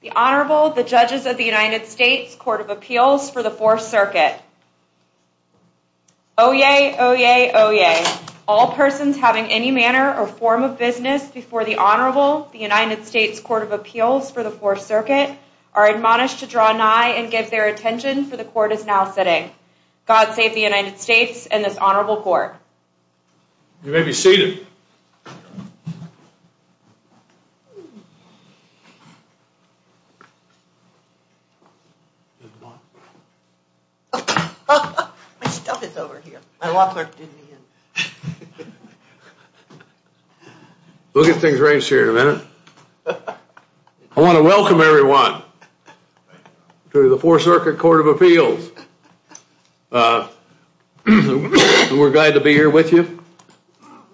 The Honorable, the Judges of the United States Court of Appeals for the 4th Circuit. Oyez, oyez, oyez. All persons having any manner or form of business before the Honorable, the United States Court of Appeals for the 4th Circuit, are admonished to draw nigh and give their attention for the Court is now sitting. God save the United States and this Court. You may be seated. We'll get things arranged here in a minute. I want to welcome everyone to the 4th Circuit Court of Appeals. We're glad to be here with you.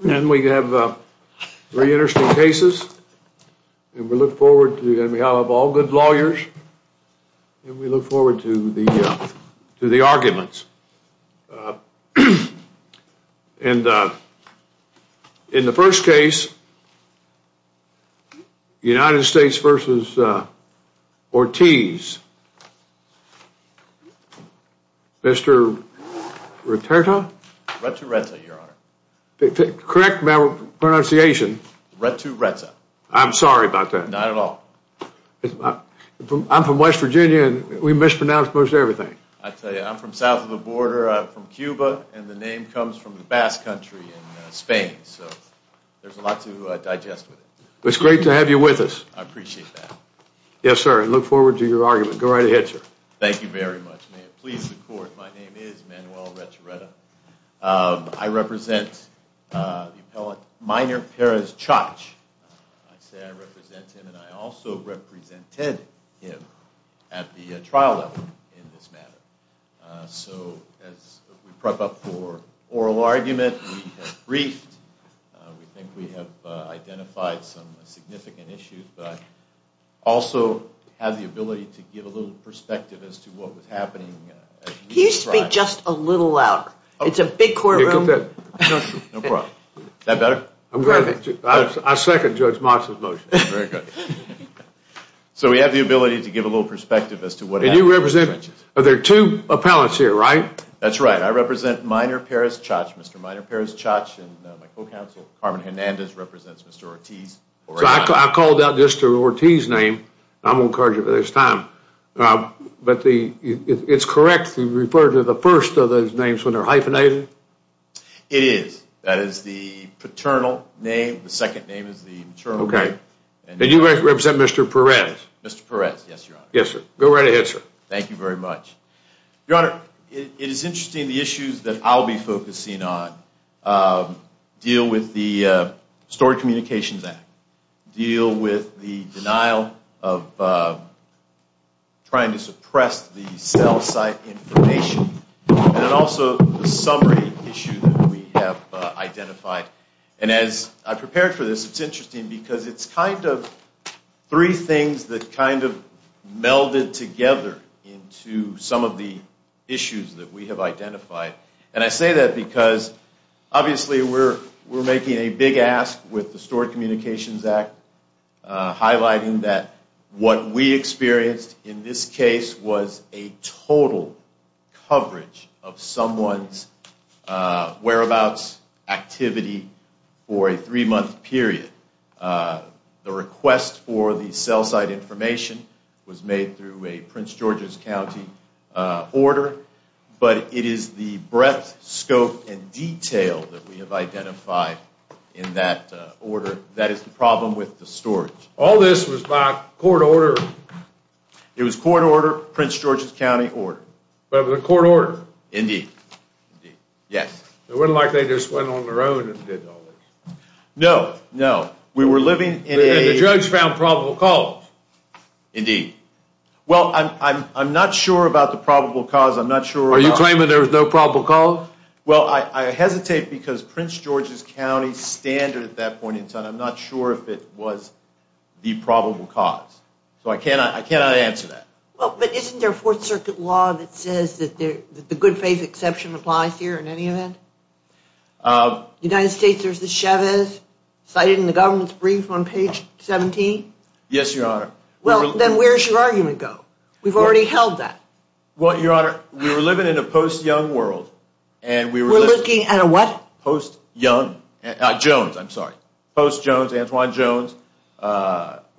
We have very interesting cases. We look forward to, on behalf of all good lawyers, we look forward to the arguments. In the first case, the United States v. Ortiz. Mr. Returta? Correct my pronunciation. I'm sorry about that. I'm from West Virginia and we mispronounce most everything. I'm from south of the border from Cuba and the name comes from the Basque country in Spain. There's a lot to digest with it. It's great to have you with us. I appreciate that. Yes, sir. I look forward to your argument. Go right ahead, sir. Thank you very much. My name is Manuel Returta. I represent the appellate minor Perez-Chach. I say I represent him and I also represented him at the trial level in this matter. So, as we prep up for oral argument, we have briefed, we think we have identified some significant issues, but also have the ability to give a little perspective as to what was happening. Can you speak just a little louder? It's a big little perspective as to what happened. Are there two appellates here, right? That's right. I represent minor Perez-Chach. Mr. minor Perez-Chach and my co-counsel, Carmen Hernandez, represents Mr. Ortiz. I called out Mr. Ortiz's name. I'm going to charge you for this time. It's correct to refer to the first of those names when they're hyphenated? It is. That is the paternal name. The Yes, sir. Go right ahead, sir. Thank you very much. Your Honor, it is interesting the issues that I'll be focusing on deal with the Stored Communications Act, deal with the denial of trying to suppress the cell site information, and also the summary issue that we have identified. And as I prepared for this, it's interesting because it's kind of three things that kind of melded together into some of the issues that we have identified. And I say that because, obviously, we're making a big ask with the Stored Communications Act, highlighting that what we for a three-month period. The request for the cell site information was made through a Prince George's County order, but it is the breadth, scope, and detail that we have identified in that order that is the problem with the storage. All this was by court order? It was court order, Prince George's County order. But it was a court order? Indeed. Yes. It wasn't like they just went on their own and did all this? No, no. We were living in a... And the judge found probable cause? Indeed. Well, I'm not sure about the probable cause. I'm not sure... Are you claiming there was no probable cause? Well, I hesitate because Prince George's County standard at that point in time, I'm not sure if it was the probable cause. So I cannot answer that. Well, but isn't there a Fourth Circuit law that says that the good faith exception applies here in any event? United States, there's the Chavez cited in the government's brief on page 17? Yes, Your Honor. Well, then where's your argument go? We've already held that. Well, Your Honor, we were living in a post-young world and we were... We're looking at a what? Post-young... Jones, I'm sorry. Post-Jones, Antoine Jones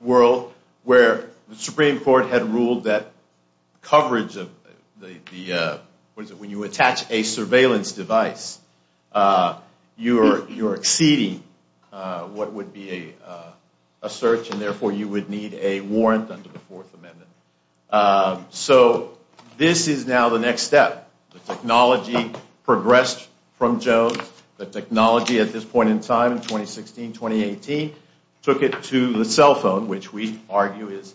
world where the Supreme Court had ruled that coverage of the... What is it? When you attach a surveillance device, you're exceeding what would be a search and therefore you would need a warrant under the Fourth Amendment. So this is now the next step. The technology progressed from Jones. The technology at this point in time in 2016, 2018 took it to the cell phone which we argue is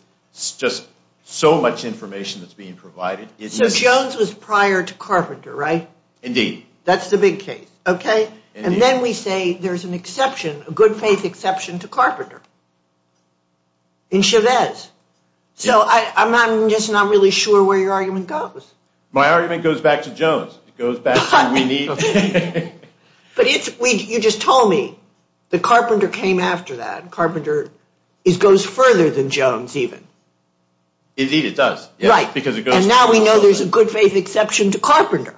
just so much information that's being provided. So Jones was prior to Carpenter, right? Indeed. That's the big case, okay? And then we say there's an exception, a good faith exception to Carpenter in Chavez. So I'm just not really sure where your argument goes. My argument goes back to Jones. It goes back to we need... But you just told me that Carpenter came after that. Carpenter goes further than Jones even. Indeed, it does. Right. Because it goes... And now we know there's a good faith exception to Carpenter.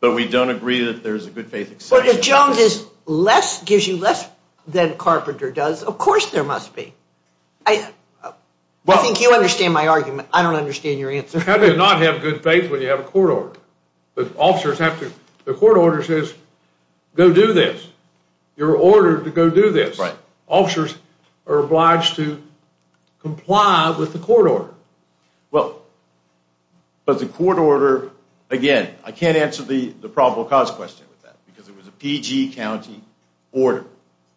But we don't agree that there's a good faith exception. But if Jones is less, gives you less than Carpenter does, of course there must be. I think you understand my argument. I don't understand your answer. How do you not have good faith when you have a court order? But officers have to... The court order says go do this. You're ordered to go do this. Right. Officers are obliged to comply with the court order. Well, but the court order, again, I can't answer the probable cause question with that because it was a PG county order.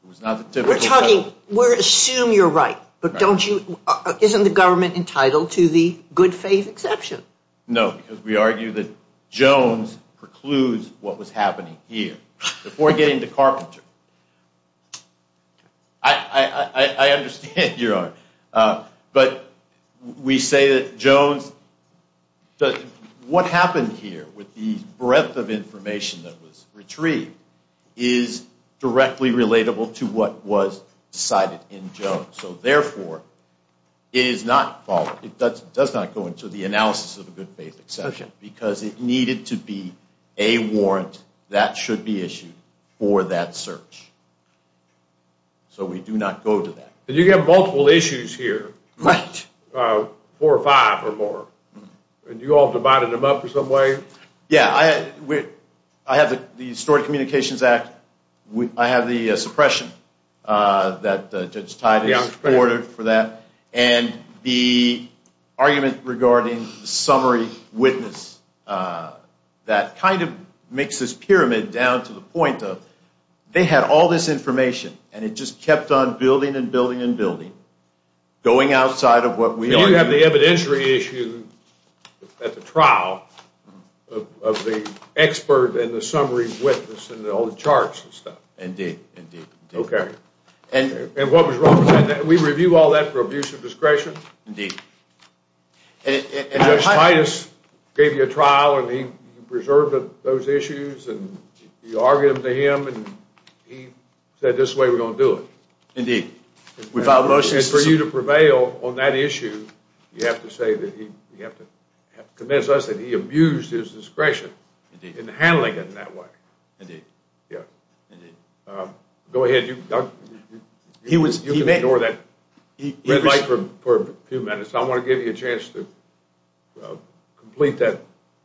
It was not the typical... We're talking... We assume you're right. But don't you... Isn't the government entitled to the good faith exception? No. Because we argue that Jones precludes what was happening here before getting to Carpenter. I understand your argument. But we say that Jones... What happened here with the breadth of information that was retrieved is directly relatable to what was decided in Jones. So therefore, it is not followed. It does not go into the analysis of a good faith exception because it needed to be a warrant that should be issued for that search. So we do not go to that. But you have multiple issues here. Right. Four or five or more. And you all divided them up in some way. Yeah. I have the Historic Communications Act. I have the suppression that Judge Titus ordered for that. And the argument regarding the summary witness that kind of makes this pyramid down to the point of they had all this information and it just kept on building and building and building, going outside of what we argued. You have the evidentiary issue at the trial of the expert and the summary witness and all the charts and stuff. Indeed, indeed. Okay. And what was wrong with that? We review all that for abuse of discretion? Indeed. And Judge Titus gave you a trial and he preserved those issues and you argued them to him and he said this is the way we're going to do it. Indeed. And for you to prevail on that issue, you have to say that he, you have to convince us that he abused his discretion in handling it in that way. Indeed. Yeah. Indeed. Go ahead. You can ignore that red light for a few minutes. I want to give you a chance to complete that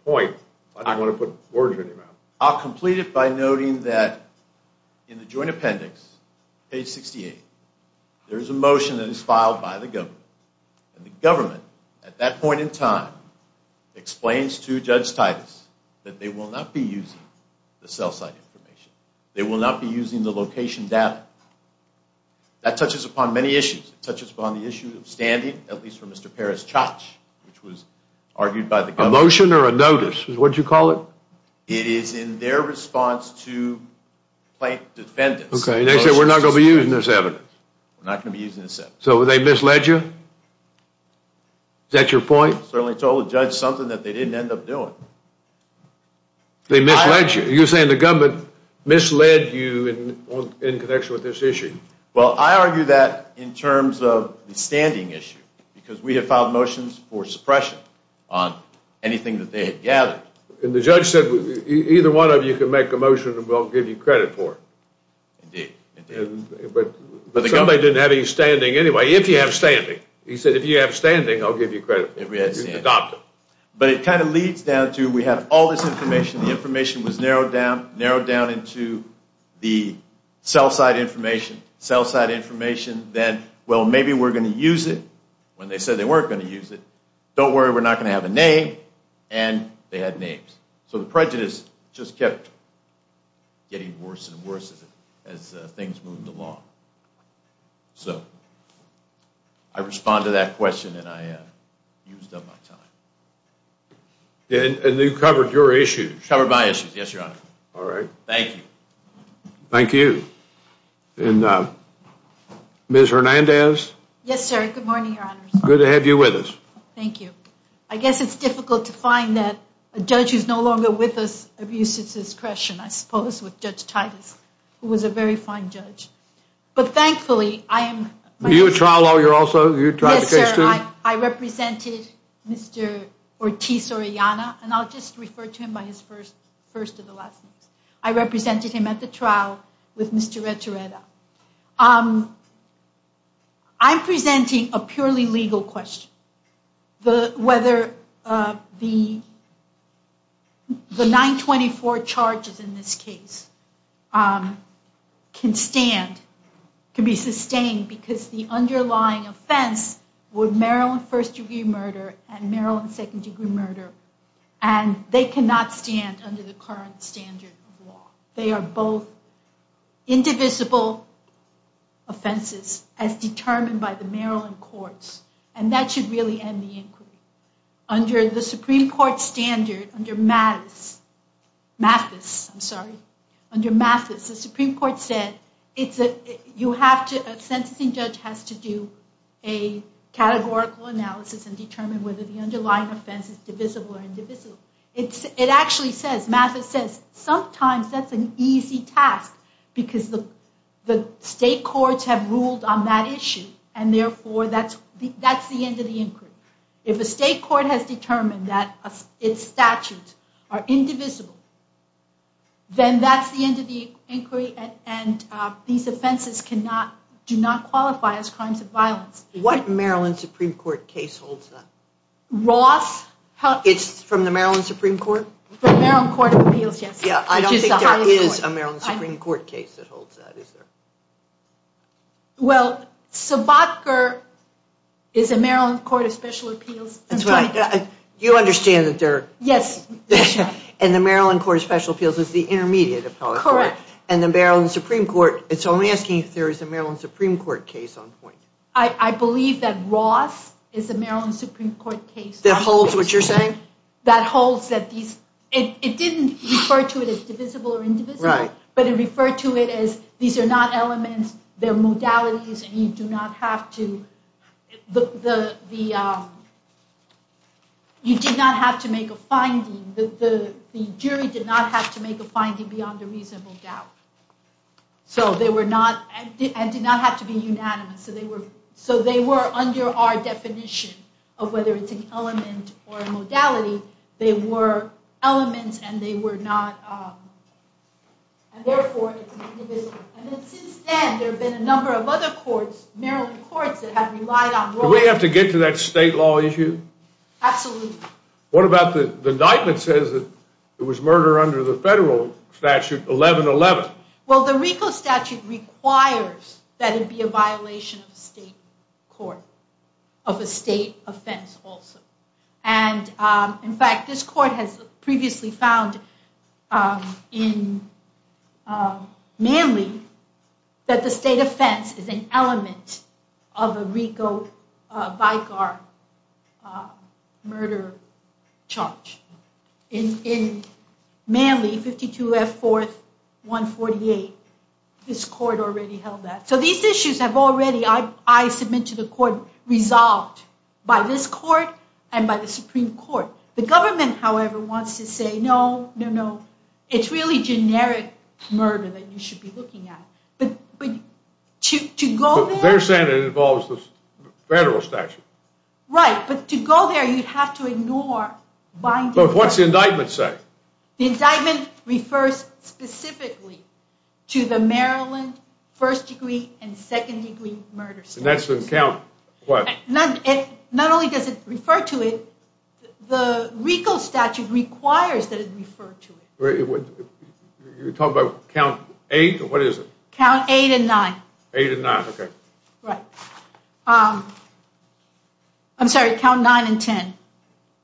point. I don't want to put words in your mouth. I'll complete it by noting that in the joint appendix, page 68, there is a motion that is filed by the government. And the government, at that point in time, explains to Judge Titus that they will not be using the cell site information. They will not be using the location data. That touches upon many issues. It touches upon the issue of standing, at least for Mr. Perez-Chotch, which was argued by the government. A motion or a notice is what you call it? It is in their response to plaintiff defendants. Okay. And they said we're not going to be using this evidence? We're not going to be using it? Is that your point? I certainly told the judge something that they didn't end up doing. They misled you? You're saying the government misled you in connection with this issue? Well, I argue that in terms of the standing issue, because we have filed motions for suppression on anything that they had gathered. And the judge said either one of you can make a motion and we'll give you credit for it. Indeed. But the government didn't have any standing anyway, if you have standing. He said if you have standing, I'll give you credit. But it kind of leads down to we have all this information. The information was narrowed down, narrowed down into the cell site information, cell site information. Then, well, maybe we're going to use it when they said they weren't going to use it. Don't worry, we're not going to have a name. And they had names. So the prejudice just kept getting worse and worse as things moved along. So, I respond to that question and I used up my time. And you covered your issues? Covered my issues, yes, your honor. All right. Thank you. Thank you. And Ms. Hernandez? Yes, sir. Good morning, your honor. Good to have you with us. Thank you. I guess it's difficult to find that a judge who's no longer with us abuses his discretion, I suppose, with Judge Titus, who was a very fine judge. But thankfully, I am... You're a trial lawyer also? Yes, sir. I represented Mr. Ortiz-Orellana, and I'll just refer to him by his first of the last names. I represented him at the trial with Mr. Retoreta. I'm presenting a case where the 924 charges in this case can stand, can be sustained, because the underlying offense was Maryland first degree murder and Maryland second degree murder. And they cannot stand under the current standard of law. They are both indivisible offenses as determined by the Maryland courts. And that should really end the inquiry. Under the Supreme Court standard, under Mathis, I'm sorry, under Mathis, the Supreme Court said, a sentencing judge has to do a categorical analysis and determine whether the underlying offense is divisible or indivisible. It actually says, Mathis says, sometimes that's an easy task because the state courts have ruled on that issue. And therefore, that's the end of the inquiry. If a state court has determined that its statutes are indivisible, then that's the end of the inquiry. And these offenses do not qualify as crimes of violence. What Maryland Supreme Court case holds that? Ross... It's from the Maryland Supreme Court? The Maryland Court of Appeals, yes. Yeah, I don't think there is a Maryland Supreme Court case that holds that, is there? Well, Sobotka is a Maryland Court of Special Appeals. That's right. You understand that they're... Yes. And the Maryland Court of Special Appeals is the intermediate appellate court. Correct. And the Maryland Supreme Court, it's only asking if there is a Maryland Supreme Court case on point. I believe that Ross is a Maryland Supreme Court case. That holds what you're saying? That holds that these, it didn't refer to it as divisible or indivisible, but it referred to it as these are not elements, they're modalities, and you do not have to... You did not have to make a finding. The jury did not have to make a finding beyond a reasonable doubt. So they were not, and did not have to be unanimous. So they were under our definition of whether it's an element or a modality. They were elements and they were not and therefore it's indivisible. And then since then there have been a number of other courts, Maryland courts, that have relied on... Do we have to get to that state law issue? Absolutely. What about the indictment says that it was murder under the federal statute 1111? Well, the RICO statute requires that it be a violation of a state court, of a state offense also. And in fact, this court has previously found in Manly that the state offense is an element of a RICO VIGAR murder charge. In Manly, 52 F 4th 148, this court already held that. So these issues have already, I submit to the court, resolved by this court and by the Supreme Court. The government, however, wants to say, no, no, no. It's really generic murder that you should be looking at. But to go there... Their Senate involves the federal statute. Right. But to go there, you'd have to ignore... But what's the indictment say? The indictment refers specifically to the Maryland first degree and second degree murders. And that's in count what? Not only does it refer to it, the RICO statute requires that it refer to it. You're talking about count eight or what is it? Count eight and nine. Eight and nine. Okay. Right. I'm sorry, count nine and ten.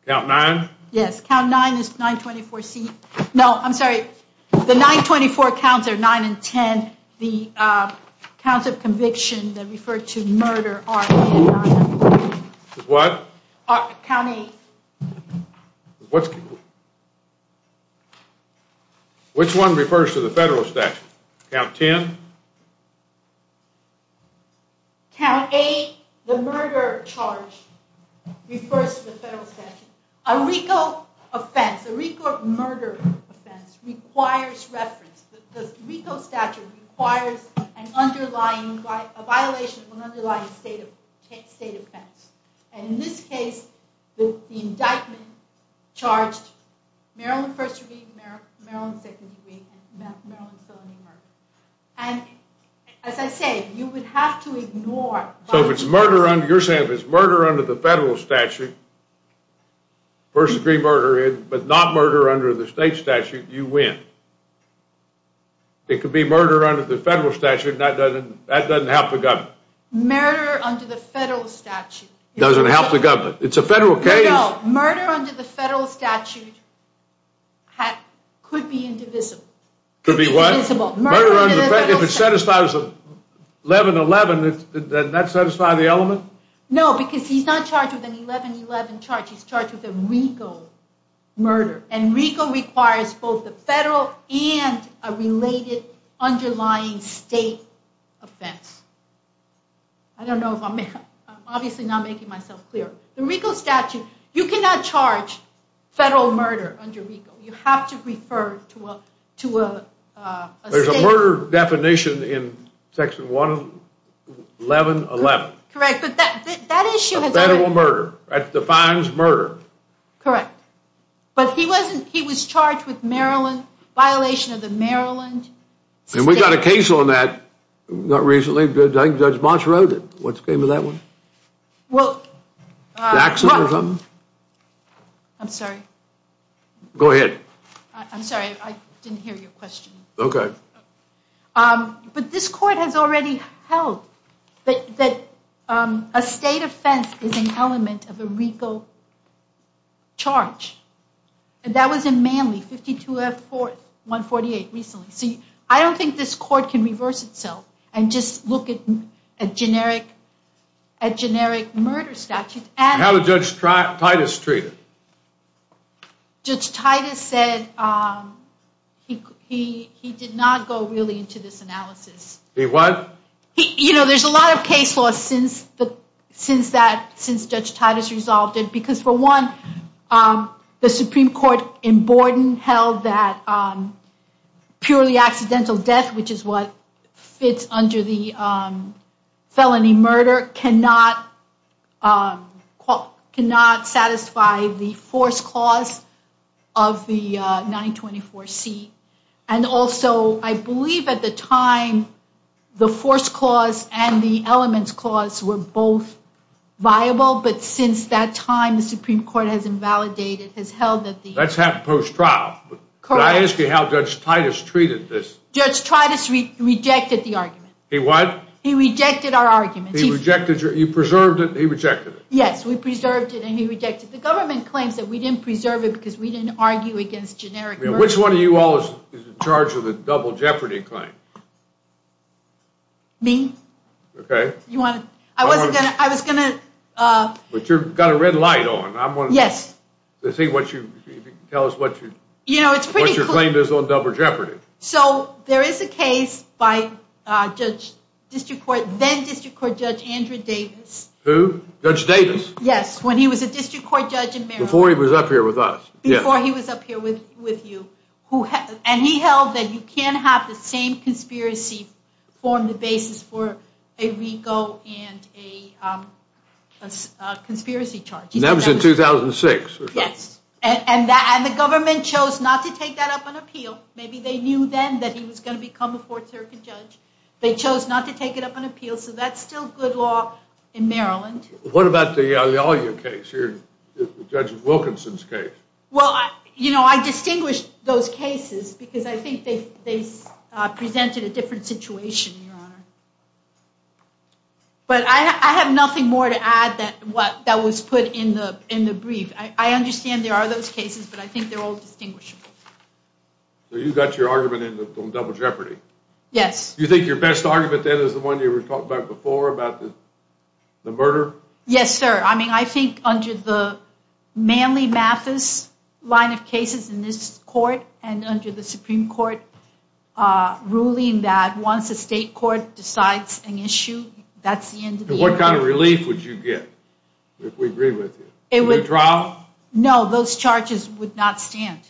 Count nine? Yes. Count nine is 924 C... No, I'm sorry. The 924 counts are nine and ten. The counts of conviction that refer to murder are eight and nine. What? Count eight. Which one refers to the federal statute? Count ten? Count eight, the murder charge, refers to the federal statute. A RICO offense, a RICO murder offense requires reference. The RICO statute requires a violation of an underlying state offense. And in this case, the indictment charged Maryland first degree, Maryland second degree murder. And as I said, you would have to ignore... So if it's murder under... You're saying if it's murder under the federal statute, first degree murder, but not murder under the state statute, you win. It could be murder under the federal statute, that doesn't help the government. Murder under the federal statute... Doesn't help the government. It's a federal case. No, no. Murder under the federal statute could be indivisible. Could be what? Murder under the federal statute. If it satisfies 1111, does that satisfy the element? No, because he's not charged with an 1111 charge. He's charged with a RICO murder. And RICO requires both the federal and a related underlying state offense. I don't know if I'm... I'm obviously not making myself clear. The RICO statute, you cannot charge federal murder under RICO. You have to refer to a state... There's a murder definition in section 1111. Correct. But that issue has... A federal murder. That defines murder. Correct. But he wasn't... He was charged with Maryland... Violation of the Maryland... And we got a case on that not recently. Judge Bosch wrote it. What's the name of that one? Well... Jackson or something? I'm sorry. Go ahead. I'm sorry. I didn't hear your question. Okay. But this court has already held that a state offense is an element of a RICO charge. And that was in Manly, 52F148, recently. See, I don't think this court can reverse itself and just look at a generic murder statute. And how did Judge Titus treat it? Judge Titus said he did not go really into this analysis. He what? You know, there's a lot of case law since Judge Titus resolved it. Because for one, the Supreme Court in Borden held that purely accidental death, which is what fits under the felony murder, cannot satisfy the force clause of the 924C. And also, I believe at the time, the force clause and the elements clause were both viable. But since that time, the Supreme Court has invalidated, has held that the... That's happened post-trial. Correct. But I asked you how Judge Titus treated this. Judge Titus rejected the argument. He what? He rejected our argument. He rejected your... You preserved it, he rejected it. Yes, we preserved it and he rejected it. The government claims that we didn't preserve it because we didn't argue against generic murder. Which one of you all is in charge of the double jeopardy claim? Me. Okay. I wasn't gonna... I was gonna... But you've got a red light on. I'm gonna... Yes. Let's see what you... Tell us what you... You know, it's pretty... What your claim is on double jeopardy. So, there is a case by Judge District Court, then District Court Judge Andrew Davis. Who? Judge Davis? Yes, when he was a District Court Judge in Maryland. Before he was up here with us. Before he was up here with you. And he held that you can't have the same conspiracy form the basis for a rego and a conspiracy charge. And that was in 2006? Yes. And the government chose not to take that up on appeal. Maybe they knew then that he was going to become a fourth circuit judge. They chose not to take it up on appeal. So, that's still good law in Maryland. What about the Alia case? Judge Wilkinson's case? Well, you know, I distinguish those cases because I think they presented a different situation, Your Honor. But I have nothing more to add that was put in the brief. I understand there are those cases, but I think they're all distinguishable. So, you got your argument on double jeopardy? Yes. You think your best argument then is the one you were talking about before about the murder? Yes, sir. I mean, I think under the Manley-Mathis line of cases in this court and under the Supreme Court ruling that once the state court decides an issue, that's the end of the interview. What kind of relief would you get if we agree with you? No, those charges would not stand.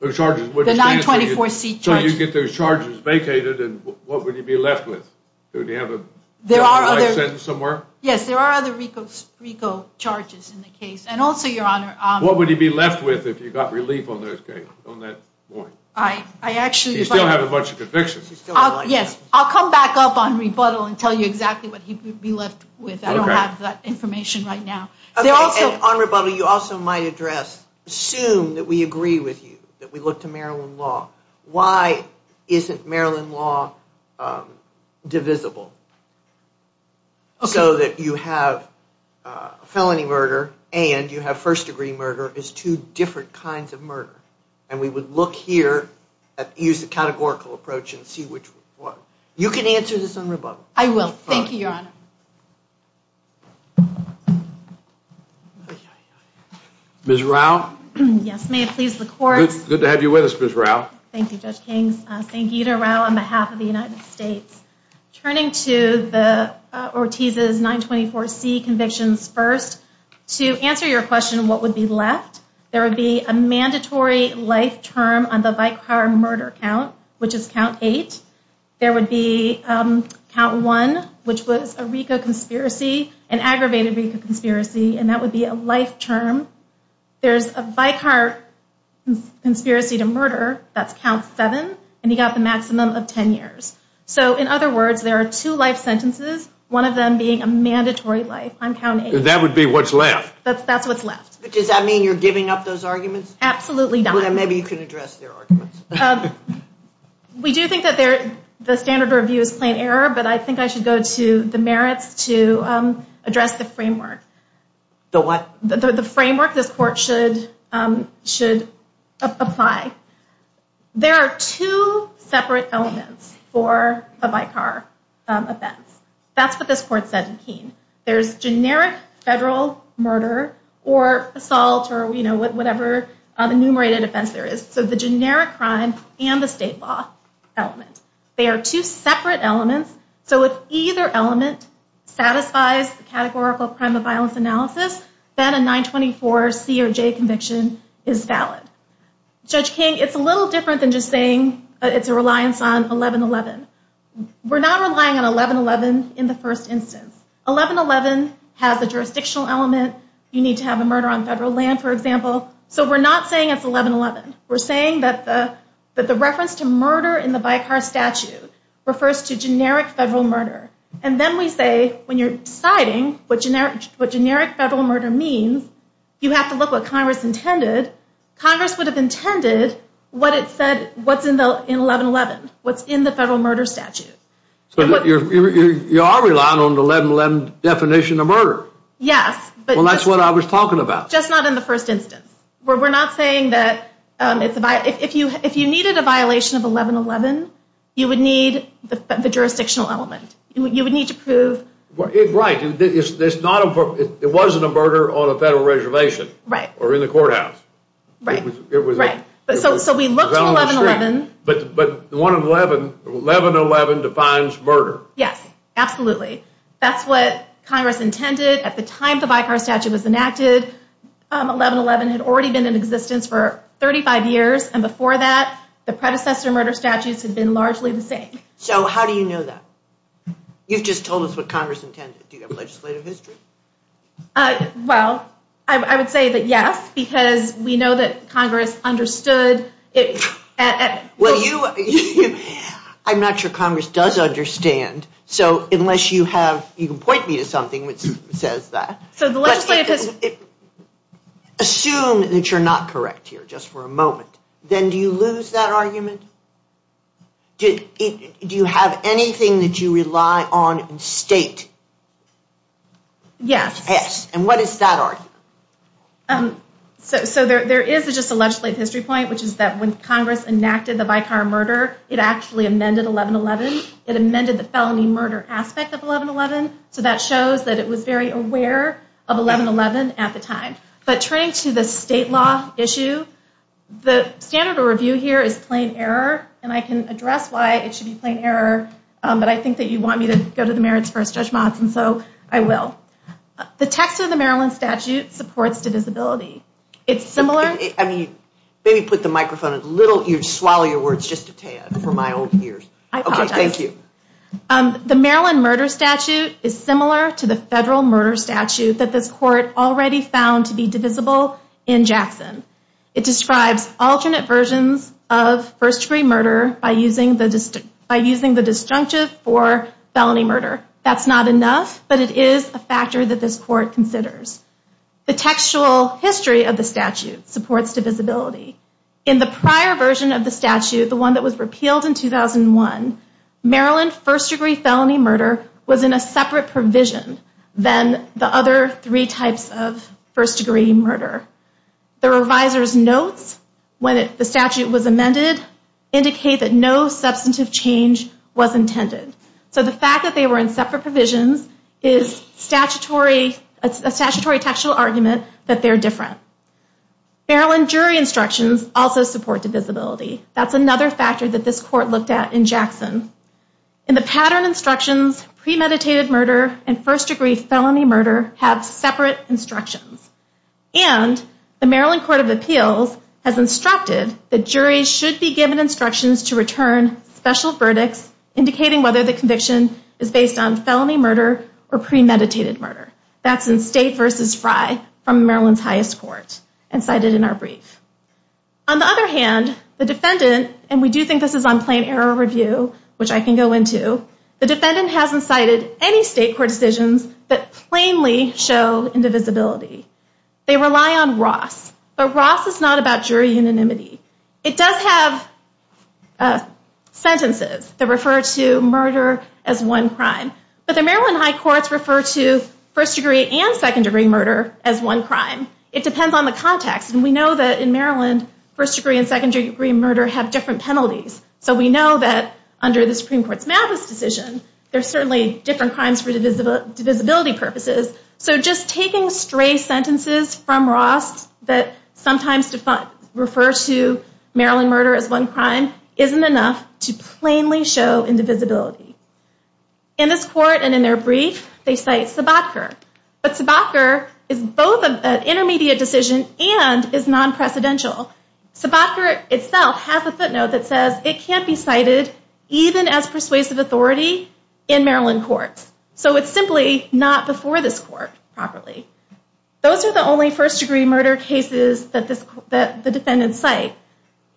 The 924C charges. So, you get those charges vacated, and what would you be left with? Would you have a life sentence somewhere? Yes, there are other rego charges in the case. And also, Your Honor... Would you be left with if you got relief on those cases on that point? I actually... You still have a bunch of convictions. Yes, I'll come back up on rebuttal and tell you exactly what he'd be left with. I don't have that information right now. On rebuttal, you also might address, assume that we agree with you, that we look to Maryland law. Why isn't Maryland law divisible? So that you have a felony murder and you have first degree murder as two different kinds of murder. And we would look here, use the categorical approach and see which one. You can answer this on rebuttal. I will. Thank you, Your Honor. Ms. Rao? Yes, may it please the court. Good to have you with us, Ms. Rao. Thank you, Judge Kings. Sangeeta Rao on behalf of the United States. Turning to the Ortiz's 924C convictions first. To answer your question, what would be left? There would be a mandatory life term on the Vicar murder count, which is count eight. There would be count one, which was a RICO conspiracy, an aggravated RICO conspiracy, and that would be a life term. There's a Vicar conspiracy to murder, that's count seven. And he got the maximum of 10 years. So in other words, there are two life sentences, one of them being a mandatory life on count eight. That would be what's left. That's what's left. But does that mean you're giving up those arguments? Absolutely not. Maybe you can address their arguments. We do think that the standard of review is plain error, but I think I should go to the merits to address the framework. The what? The framework this court should apply. There are two separate elements for a Vicar offense. That's what this court said in Keene. There's generic federal murder or assault or whatever enumerated offense there is. So the generic crime and the state law element. They are two separate elements. So if either element satisfies the categorical crime of violence analysis, then a 924C or J conviction is valid. Judge King, it's a little different than just saying it's a reliance on 1111. We're not relying on 1111 in the first instance. 1111 has the jurisdictional element. You need to have a murder on federal land, for example. So we're not saying it's 1111. We're saying that the reference to murder in the Vicar statute refers to generic federal murder. And then we say, when you're deciding what generic federal murder means, you have to look what Congress intended. Congress would have intended what it said what's in 1111, what's in the federal murder statute. So you are relying on the 1111 definition of murder? Yes. Well, that's what I was talking about. Just not in the first instance. We're not saying that if you needed a violation of 1111, you would need the jurisdictional element. You would need to prove... Right. It wasn't a murder on a federal reservation or in the courthouse. Right. So we look to 1111. But 1111 defines murder. Yes, absolutely. That's what Congress intended at the time the Vicar statute was enacted. 1111 had already been in existence for 35 years. And before that, the predecessor murder statutes had been largely the same. So how do you know that? You've just told us what Congress intended. Do you have legislative history? Uh, well, I would say that yes, because we know that Congress understood it. Well, I'm not sure Congress does understand. So unless you have... You can point me to something which says that. Assume that you're not correct here just for a moment. Then do you lose that argument? Do you have anything that you rely on in state? Yes. And what is that argument? So there is just a legislative history point, which is that when Congress enacted the Vicar murder, it actually amended 1111. It amended the felony murder aspect of 1111. So that shows that it was very aware of 1111 at the time. But turning to the state law issue, the standard of review here is plain error. And I can address why it should be plain error. But I think that you want me to go to the merits first, Judge Monson. So I will. The text of the Maryland statute supports divisibility. It's similar... I mean, maybe put the microphone a little... Swallow your words just a tad for my own ears. I apologize. Thank you. The Maryland murder statute is similar to the federal murder statute that this court already found to be divisible in Jackson. It describes alternate versions of first-degree murder by using the disjunctive for felony murder. That's not enough, but it is a factor that this court considers. The textual history of the statute supports divisibility. In the prior version of the statute, the one that was repealed in 2001, Maryland first-degree felony murder was in a separate provision than the other three types of first-degree murder. The reviser's notes, when the statute was amended, indicate that no substantive change was intended. So the fact that they were in separate provisions is a statutory textual argument that they're different. Maryland jury instructions also support divisibility. That's another factor that this court looked at in Jackson. In the pattern instructions, premeditated murder and first-degree felony murder have separate instructions. And the Maryland Court of Appeals has instructed that juries should be given instructions to return special verdicts indicating whether the conviction is based on felony murder or premeditated murder. That's in State v. Fry from Maryland's highest court and cited in our brief. On the other hand, the defendant, and we do think this is on plain error review, which I can go into, the defendant hasn't cited any state court decisions that plainly show indivisibility. They rely on Ross, but Ross is not about jury unanimity. It does have sentences that refer to murder as one crime. But the Maryland high courts refer to first-degree and second-degree murder as one crime. It depends on the context. And we know that in Maryland, first-degree and second-degree murder have different penalties. So we know that under the Supreme Court's Mavis decision, there's certainly different crimes for divisibility purposes. So just taking stray sentences from Ross that sometimes refer to Maryland murder as one crime isn't enough to plainly show indivisibility. In this court and in their brief, they cite Sobotka. But Sobotka is both an intermediate decision and is non-precedential. Sobotka itself has a footnote that says it can't be cited even as persuasive authority in Maryland courts. So it's simply not before this court properly. Those are the only first-degree murder cases that the defendants cite.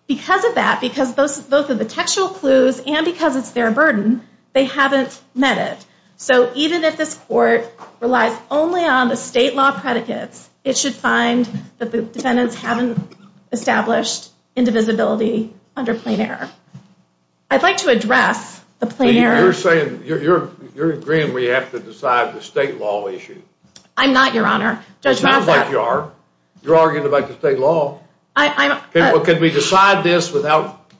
Because of that, because both of the textual clues and because it's their burden, they haven't met it. So even if this court relies only on the state law predicates, it should find that the defendants haven't established indivisibility under plain error. I'd like to address the plain error. You're saying, you're agreeing we have to decide the state law issue. I'm not, Your Honor. It sounds like you are. You're arguing about the state law. Can we decide this without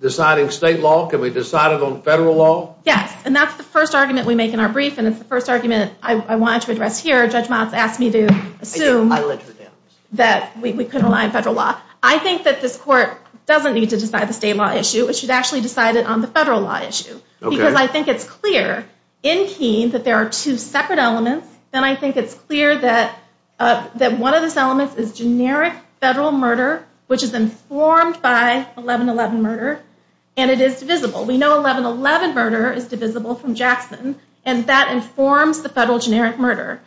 deciding state law? Can we decide it on federal law? Yes. And that's the first argument we make in our brief. And it's the first argument I wanted to address here. Judge Motz asked me to assume that we could rely on federal law. I think that this court doesn't need to decide the state law issue. It should actually decide it on the federal law issue. Because I think it's clear in Keene that there are two separate elements. And I think it's clear that one of those elements is generic federal murder, which is informed by 11-11 murder. And it is divisible. We know 11-11 murder is divisible from Jackson. And that informs the federal generic murder,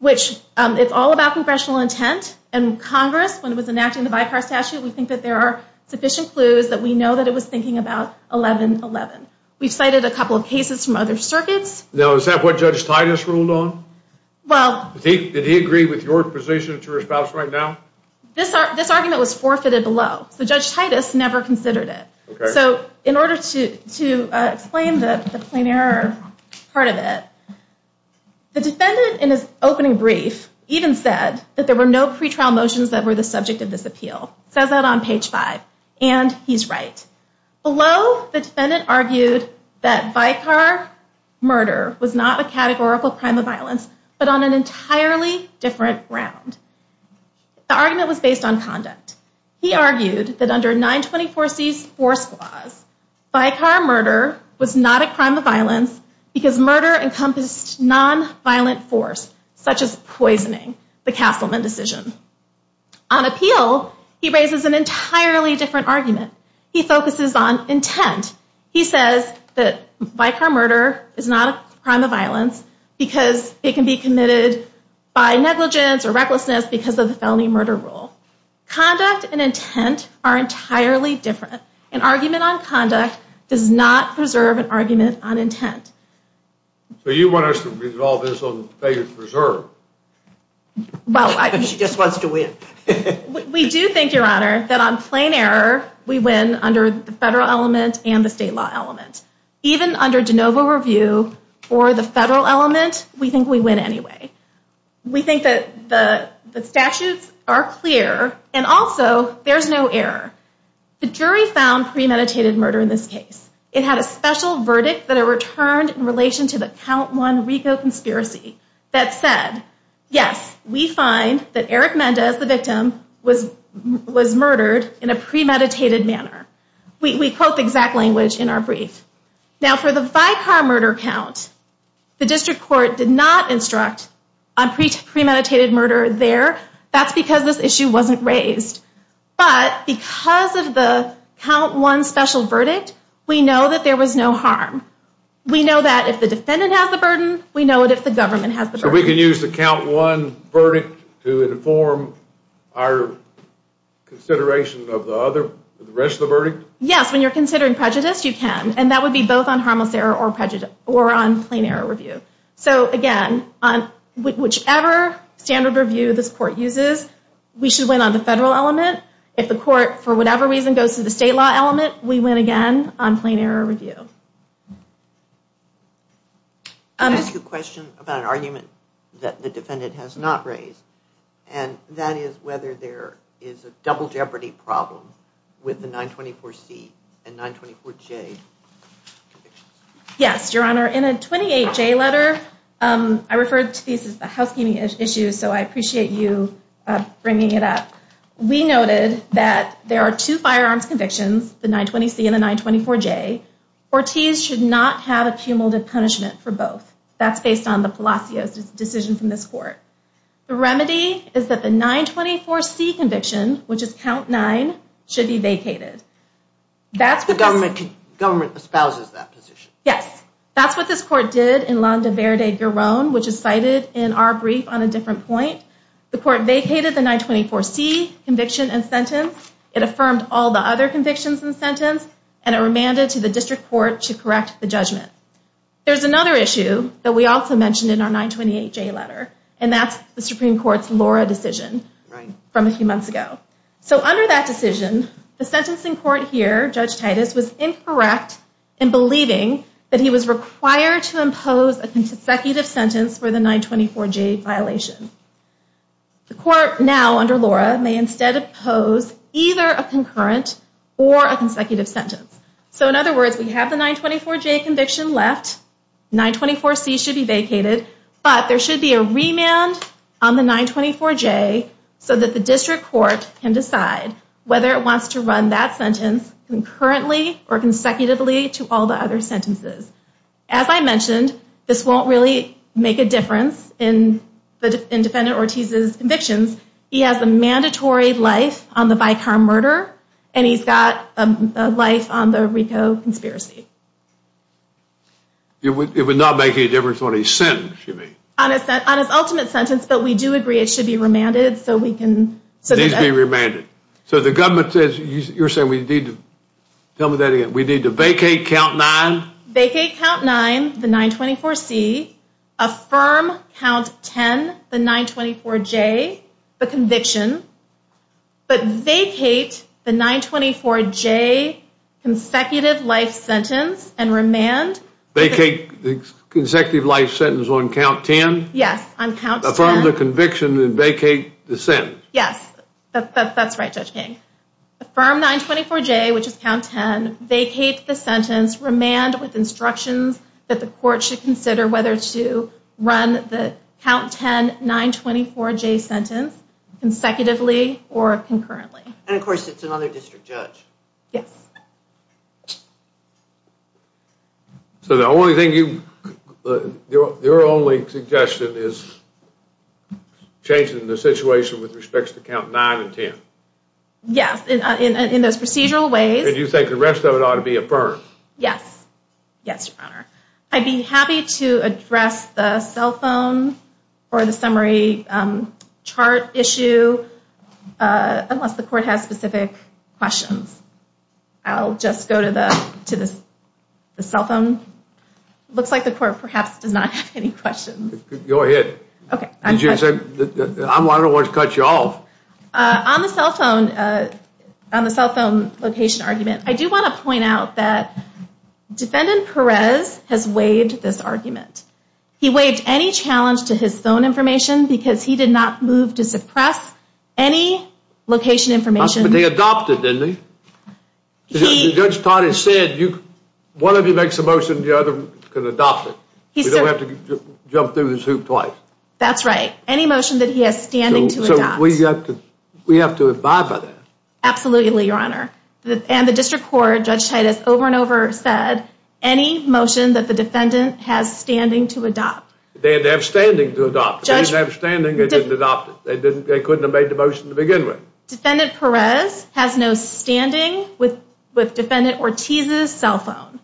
which it's all about congressional intent. And Congress, when it was enacting the Vicar Statute, we think that there are sufficient clues that we know that it was thinking about 11-11. We've cited a couple of cases from other circuits. Now, is that what Judge Titus ruled on? Well, did he agree with your position that you're espousing right now? This argument was forfeited below. So Judge Titus never considered it. So in order to explain the plain error part of it, the defendant, in his opening brief, even said that there were no pretrial motions that were the subject of this appeal. It says that on page five. And he's right. Below, the defendant argued that vicar murder was not a categorical crime of violence, but on an entirely different ground. The argument was based on conduct. He argued that under 924C's force clause, vicar murder was not a crime of violence because murder encompassed nonviolent force, such as poisoning, the Castleman decision. On appeal, he raises an entirely different argument. He focuses on intent. He says that vicar murder is not a crime of violence because it can be committed by negligence or recklessness because of the felony murder rule. Conduct and intent are entirely different. An argument on conduct does not preserve an argument on intent. So you want us to resolve this on the failure to preserve? Well, she just wants to win. We do think, Your Honor, that on plain error, we win under the federal element and the state law element. Even under de novo review for the federal element, we think we win anyway. We think that the statutes are clear and also there's no error. The jury found premeditated murder in this case. It had a special verdict that it returned in relation to the count one RICO conspiracy that said, yes, we find that Eric Mendez, the victim, was murdered in a premeditated manner. We quote the exact language in our brief. Now, for the vicar murder count, the district court did not instruct on premeditated murder there. That's because this issue wasn't raised. But because of the count one special verdict, we know that there was no harm. We know that if the defendant has the burden, we know it if the government has the burden. We can use the count one verdict to inform our consideration of the other, the rest of the verdict? Yes, when you're considering prejudice, you can. And that would be both on harmless error or on plain error review. So again, whichever standard review this court uses, we should win on the federal element. If the court, for whatever reason, goes to the state law element, we win again on plain error review. I have a question about an argument that the defendant has not raised. And that is whether there is a double jeopardy problem with the 924C and 924J convictions. Yes, Your Honor. In a 28J letter, I referred to these as the housekeeping issues, so I appreciate you bringing it up. We noted that there are two firearms convictions, the 920C and the 924J, or T's should not have a cumulative punishment for both. That's based on the Palacios' decision from this court. The remedy is that the 924C conviction, which is count nine, should be vacated. That's what this- Government espouses that position. Yes, that's what this court did in Landa Verde Guerron, which is cited in our brief on a different point. The court vacated the 924C conviction and sentence. It affirmed all the other convictions in the sentence, and it remanded to the district court to correct the judgment. There's another issue that we also mentioned in our 928J letter, and that's the Supreme Court's Laura decision from a few months ago. So under that decision, the sentencing court here, Judge Titus, was incorrect in believing that he was required to impose a consecutive sentence for the 924J violation. The court now, under Laura, may instead impose either a concurrent or a consecutive sentence. So in other words, we have the 924J conviction left. 924C should be vacated, but there should be a remand on the 924J so that the district court can decide whether it wants to run that sentence concurrently or consecutively to all the other sentences. As I mentioned, this won't really make a difference in Defendant Ortiz's convictions. He has a mandatory life on the Vicar murder, and he's got a life on the Rico conspiracy. It would not make any difference on his sentence, you mean? On his ultimate sentence, but we do agree it should be remanded so we can... It needs to be remanded. So the government says, you're saying we need to... Tell me that again. We need to vacate Count 9... Vacate Count 9, the 924C, affirm Count 10, the 924J, the conviction, but vacate the 924J consecutive life sentence and remand... Vacate the consecutive life sentence on Count 10? Yes, on Count 10. Affirm the conviction and vacate the sentence. Yes, that's right, Judge King. Affirm 924J, which is Count 10, vacate the sentence, remand with instructions that the court should consider whether to run the Count 10, 924J sentence consecutively or concurrently. And of course, it's another district judge. Yes. So the only thing you... Your only suggestion is changing the situation with respects to Count 9 and 10? Yes, in those procedural ways. And you think the rest of it ought to be affirmed? Yes. Yes, Your Honor. I'd be happy to address the cell phone or the summary chart issue unless the court has specific questions. I'll just go to the cell phone. Looks like the court perhaps does not have any questions. Go ahead. I'm one of the ones to cut you off. On the cell phone location argument, I do want to point out that Defendant Perez has waived this argument. He waived any challenge to his phone information because he did not move to suppress any location information. But they adopted, didn't he? Judge Tardy said one of you makes a motion, the other can adopt it. You don't have to jump through the hoop twice. That's right. Any motion that he has standing to adopt. So we have to abide by that? Absolutely, Your Honor. And the district court, Judge Titus, over and over said any motion that the defendant has standing to adopt. They have standing to adopt. If they didn't have standing, they didn't adopt it. They couldn't have made the motion to begin with. Defendant Perez has no standing with Defendant Ortiz's cell phone.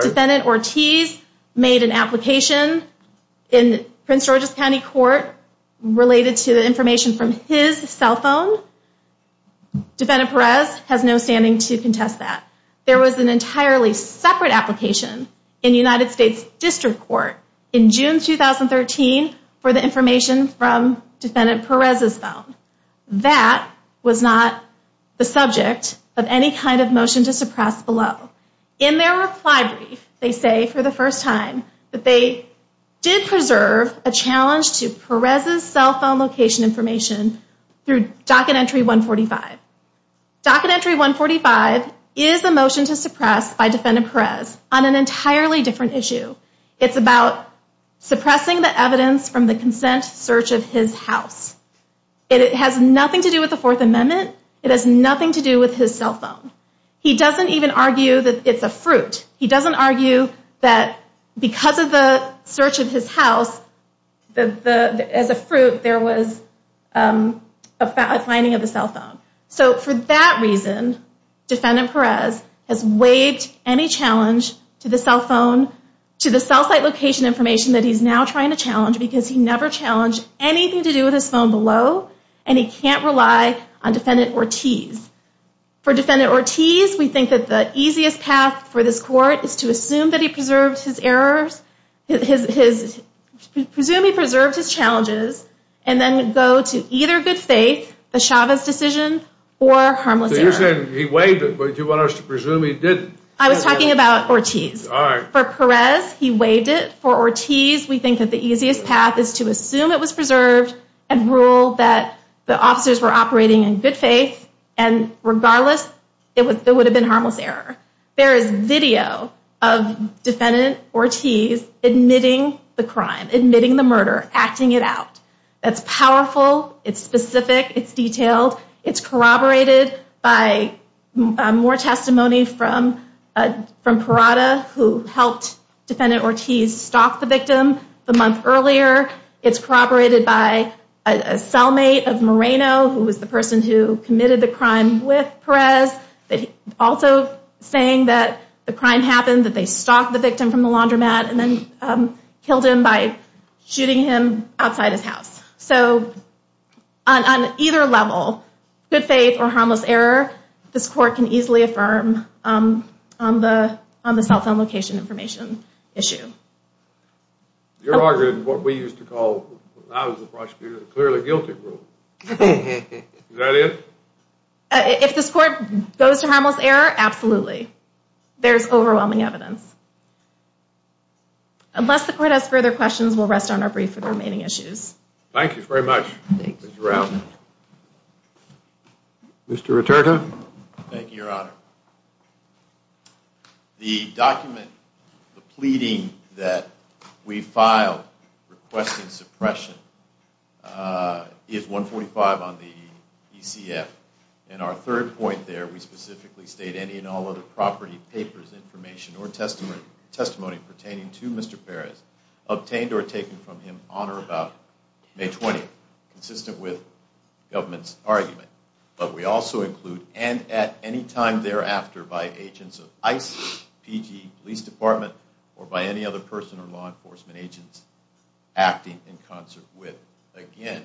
Defendant Ortiz made an application in Prince George's County Court related to the information from his cell phone. Defendant Perez has no standing to contest that. There was an entirely separate application in United States District Court in June 2013 for the information from Defendant Perez's phone. That was not the subject of any kind of motion to suppress below. In their reply brief, they say for the first time that they did preserve a challenge to Perez's cell phone location information through Docket Entry 145. Docket Entry 145 is a motion to suppress by Defendant Perez on an entirely different issue. It's about suppressing the evidence from the consent search of his house. And it has nothing to do with the Fourth Amendment. It has nothing to do with his cell phone. He doesn't even argue that it's a fruit. He doesn't argue that because of the search of his house, as a fruit, there was a finding of the cell phone. So for that reason, Defendant Perez has waived any challenge to the cell phone, to the cell site location information that he's now trying to challenge because he never challenged anything to do with his phone below and he can't rely on Defendant Ortiz. For Defendant Ortiz, we think that the easiest path for this court is to assume that he preserved his errors, presume he preserved his challenges, and then go to either good faith, the Chavez decision, or harmless error. So you're saying he waived it, but you want us to presume he didn't? I was talking about Ortiz. All right. For Perez, he waived it. For Ortiz, we think that the easiest path is to assume it was preserved and rule that the officers were operating in good faith and regardless, it would have been harmless error. There is video of Defendant Ortiz admitting the crime, admitting the murder, acting it out. That's powerful. It's specific. It's detailed. It's corroborated by more testimony from Parada, who helped Defendant Ortiz stalk the victim the month earlier. It's corroborated by a cellmate of Moreno, who was the person who committed the crime with Perez, but also saying that the crime happened, that they stalked the victim from the laundromat and then killed him by shooting him outside his house. So on either level, good faith or harmless error, this court can easily affirm on the cell phone location information issue. You're arguing what we used to call, when I was the prosecutor, the clearly guilty rule. Is that it? If this court goes to harmless error, absolutely. There's overwhelming evidence. Unless the court has further questions, we'll rest on our brief for the remaining issues. Thank you very much, Mr. Rao. Mr. Roterta. Thank you, Your Honor. The document, the pleading that we filed requesting suppression is 145 on the ECF. And our third point there, we specifically state any and all other property papers, information or testimony pertaining to Mr. Perez, obtained or taken from him, honor about May 20th, consistent with government's argument. But we also include, and at any time thereafter, by agents of ICE, PG, police department, or by any other person or law enforcement agents acting in concert with. Again,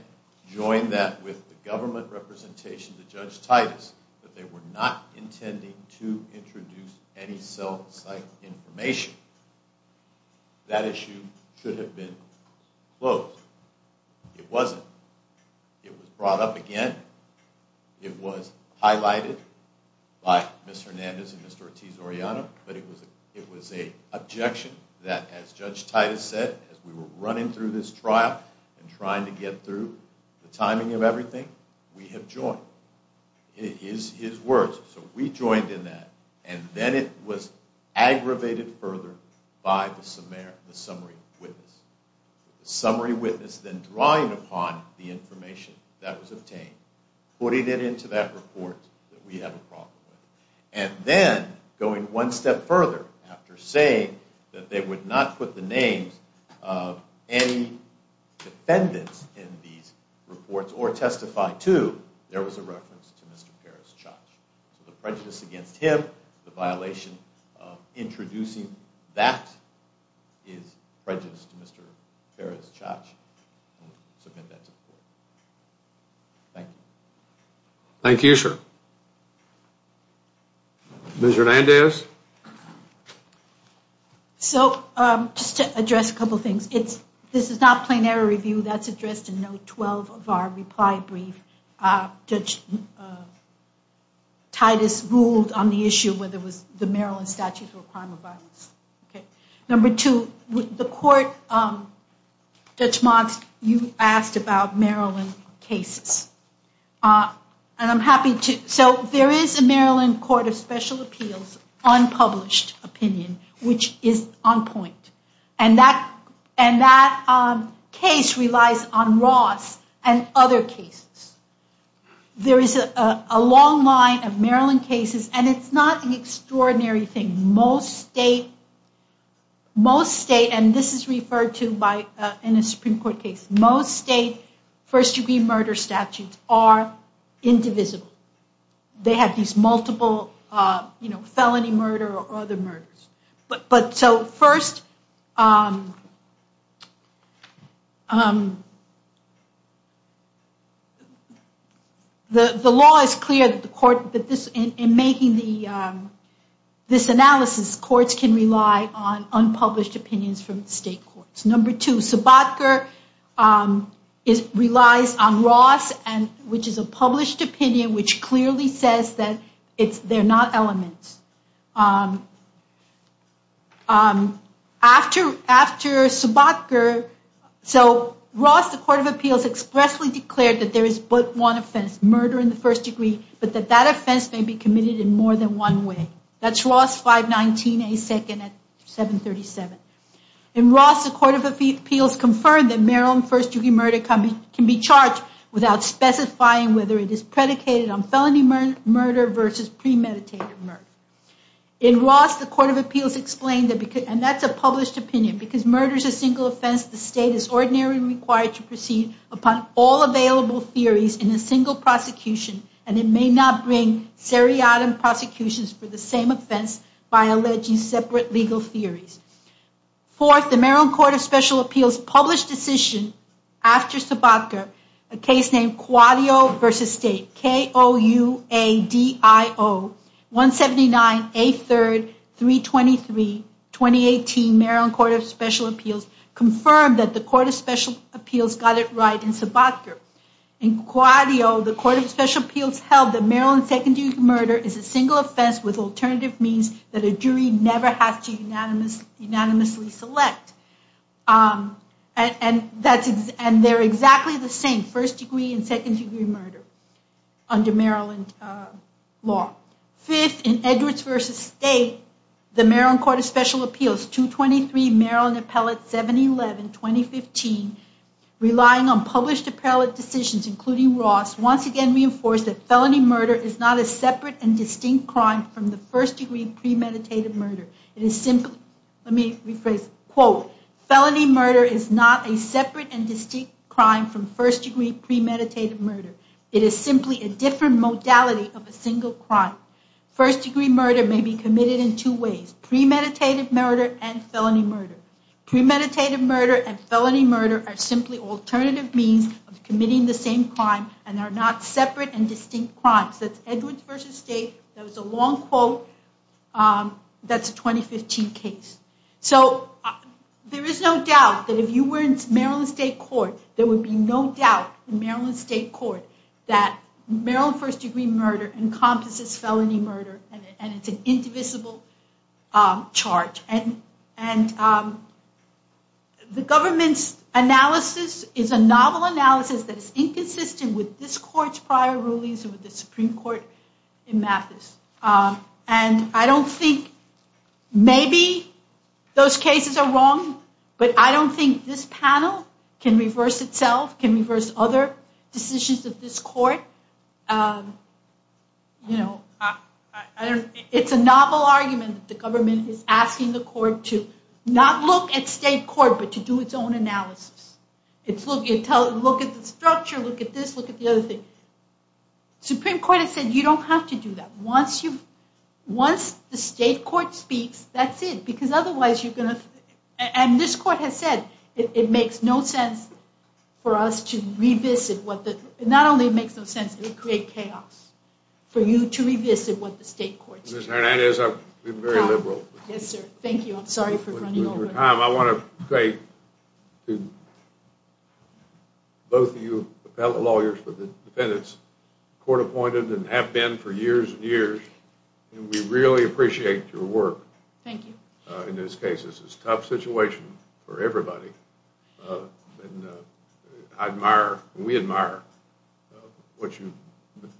join that with the government representation to Judge Titus, that they were not intending to introduce any cell site information. That issue should have been closed. It wasn't. It was brought up again. It was highlighted by Ms. Hernandez and Mr. Ortiz-Oriano. But it was a objection that as Judge Titus said, as we were running through this trial and trying to get through the timing of everything, we have joined. It is his words. So we joined in that. And then it was aggravated further by the summary witness. Summary witness then drawing upon the information that was obtained, putting it into that report that we have a problem with. And then, going one step further after saying that they would not put the names of any defendants in these reports or testify to, there was a reference to Mr. Perez-Chach. So the prejudice against him, the violation of introducing that is prejudiced to Mr. Perez-Chach. Thank you. Thank you, sir. Ms. Hernandez. So just to address a couple things. This is not a plain error review. That's addressed in note 12 of our reply brief. Judge Titus ruled on the issue whether it was the Maryland statutes were a crime or violence. Number two, the court, Judge Modst, you asked about Maryland cases. And I'm happy to. So there is a Maryland Court of Special Appeals unpublished opinion, which is on point. And that case relies on Ross and other cases. There is a long line of Maryland cases. And it's not an extraordinary thing. Most state, most state, and this is referred to by in a Supreme Court case, most state first degree murder statutes are indivisible. They have these multiple, you know, felony murder or other murders. But so first, the law is clear that the court, that this in making the, this analysis courts can rely on unpublished opinions from state courts. Number two, Sobotka is, relies on Ross and, which is a published opinion, which clearly says that it's, they're not elements. After, after Sobotka, so Ross, the Court of Appeals expressly declared that there is but one offense, murder in the first degree, but that that offense may be committed in more than one way. That's Ross 519, a second at 737. In Ross, the Court of Appeals confirmed that Maryland first degree murder can be charged without specifying whether it is predicated on felony murder versus premeditated murder. In Ross, the Court of Appeals explained that, and that's a published opinion because murder is a single offense. The state is ordinarily required to proceed upon all available theories in a single prosecution. And it may not bring seriatim prosecutions for the same offense by alleging separate legal theories. Fourth, the Maryland Court of Special Appeals published decision after Sobotka, a case named Cuadio v. State, K-O-U-A-D-I-O 179, 8th 3rd, 323, 2018, Maryland Court of Special Appeals confirmed that the Court of Special Appeals got it right in Sobotka. In Cuadio, the Court of Special Appeals held that Maryland second degree murder is a single offense with alternative means that a jury never has to unanimously select. And they're exactly the same, first degree and second degree murder under Maryland law. Fifth, in Edwards v. State, the Maryland Court of Special Appeals 223, Maryland Appellate 711, 2015, relying on published appellate decisions including Ross, once again reinforced that felony murder is not a separate and distinct crime from the first degree premeditated murder. It is simply, let me rephrase, quote, felony murder is not a separate and distinct crime from first degree premeditated murder. It is simply a different modality of a single crime. First degree murder may be committed in two ways, premeditated murder and felony murder. Premeditated murder and felony murder are simply alternative means of committing the same crime and are not separate and distinct crimes. That's Edwards v. State. That was a long quote. That's a 2015 case. So there is no doubt that if you were in Maryland State Court, there would be no doubt in Maryland State Court that Maryland first degree murder encompasses felony murder and it's an indivisible charge. And the government's analysis is a novel analysis that is inconsistent with this court's prior rulings and with the Supreme Court in Mathis. And I don't think maybe those cases are wrong, but I don't think this panel can reverse itself, can reverse other decisions of this court. It's a novel argument that the government is asking the court to not look at state court, but to do its own analysis. It's look at the structure, look at this, look at the other thing. Supreme Court has said you don't have to do that. Once the state court speaks, that's it, because otherwise you're going to... And this court has said it makes no sense for us to revisit what the... Not only it makes no sense, it would create chaos for you to revisit what the state court said. Ms. Hernandez, I'm being very liberal. Yes, sir. Thank you. I'm sorry for running over. Tom, I want to say to both of you appellate lawyers for the defendants, court appointed and have been for years and years. And we really appreciate your work. Thank you. In this case, this is a tough situation for everybody. And I admire, we admire what you've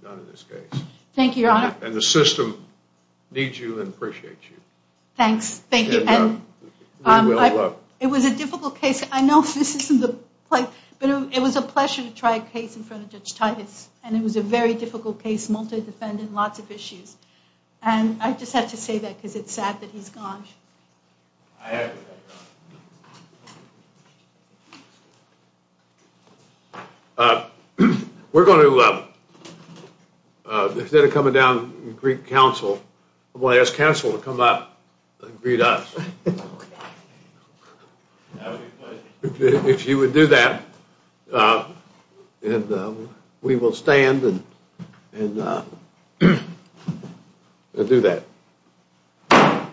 done in this case. Thank you, Your Honor. And the system needs you and appreciates you. Thanks. Thank you. It was a difficult case. I know this isn't the place, but it was a pleasure to try a case in front of Judge Titus. And it was a very difficult case, multi-defendant, lots of issues. And I just have to say that because it's sad that he's gone. We're going to, instead of coming down and greet counsel, I'm going to ask counsel to come up and greet us. If you would do that, and we will stand and do that.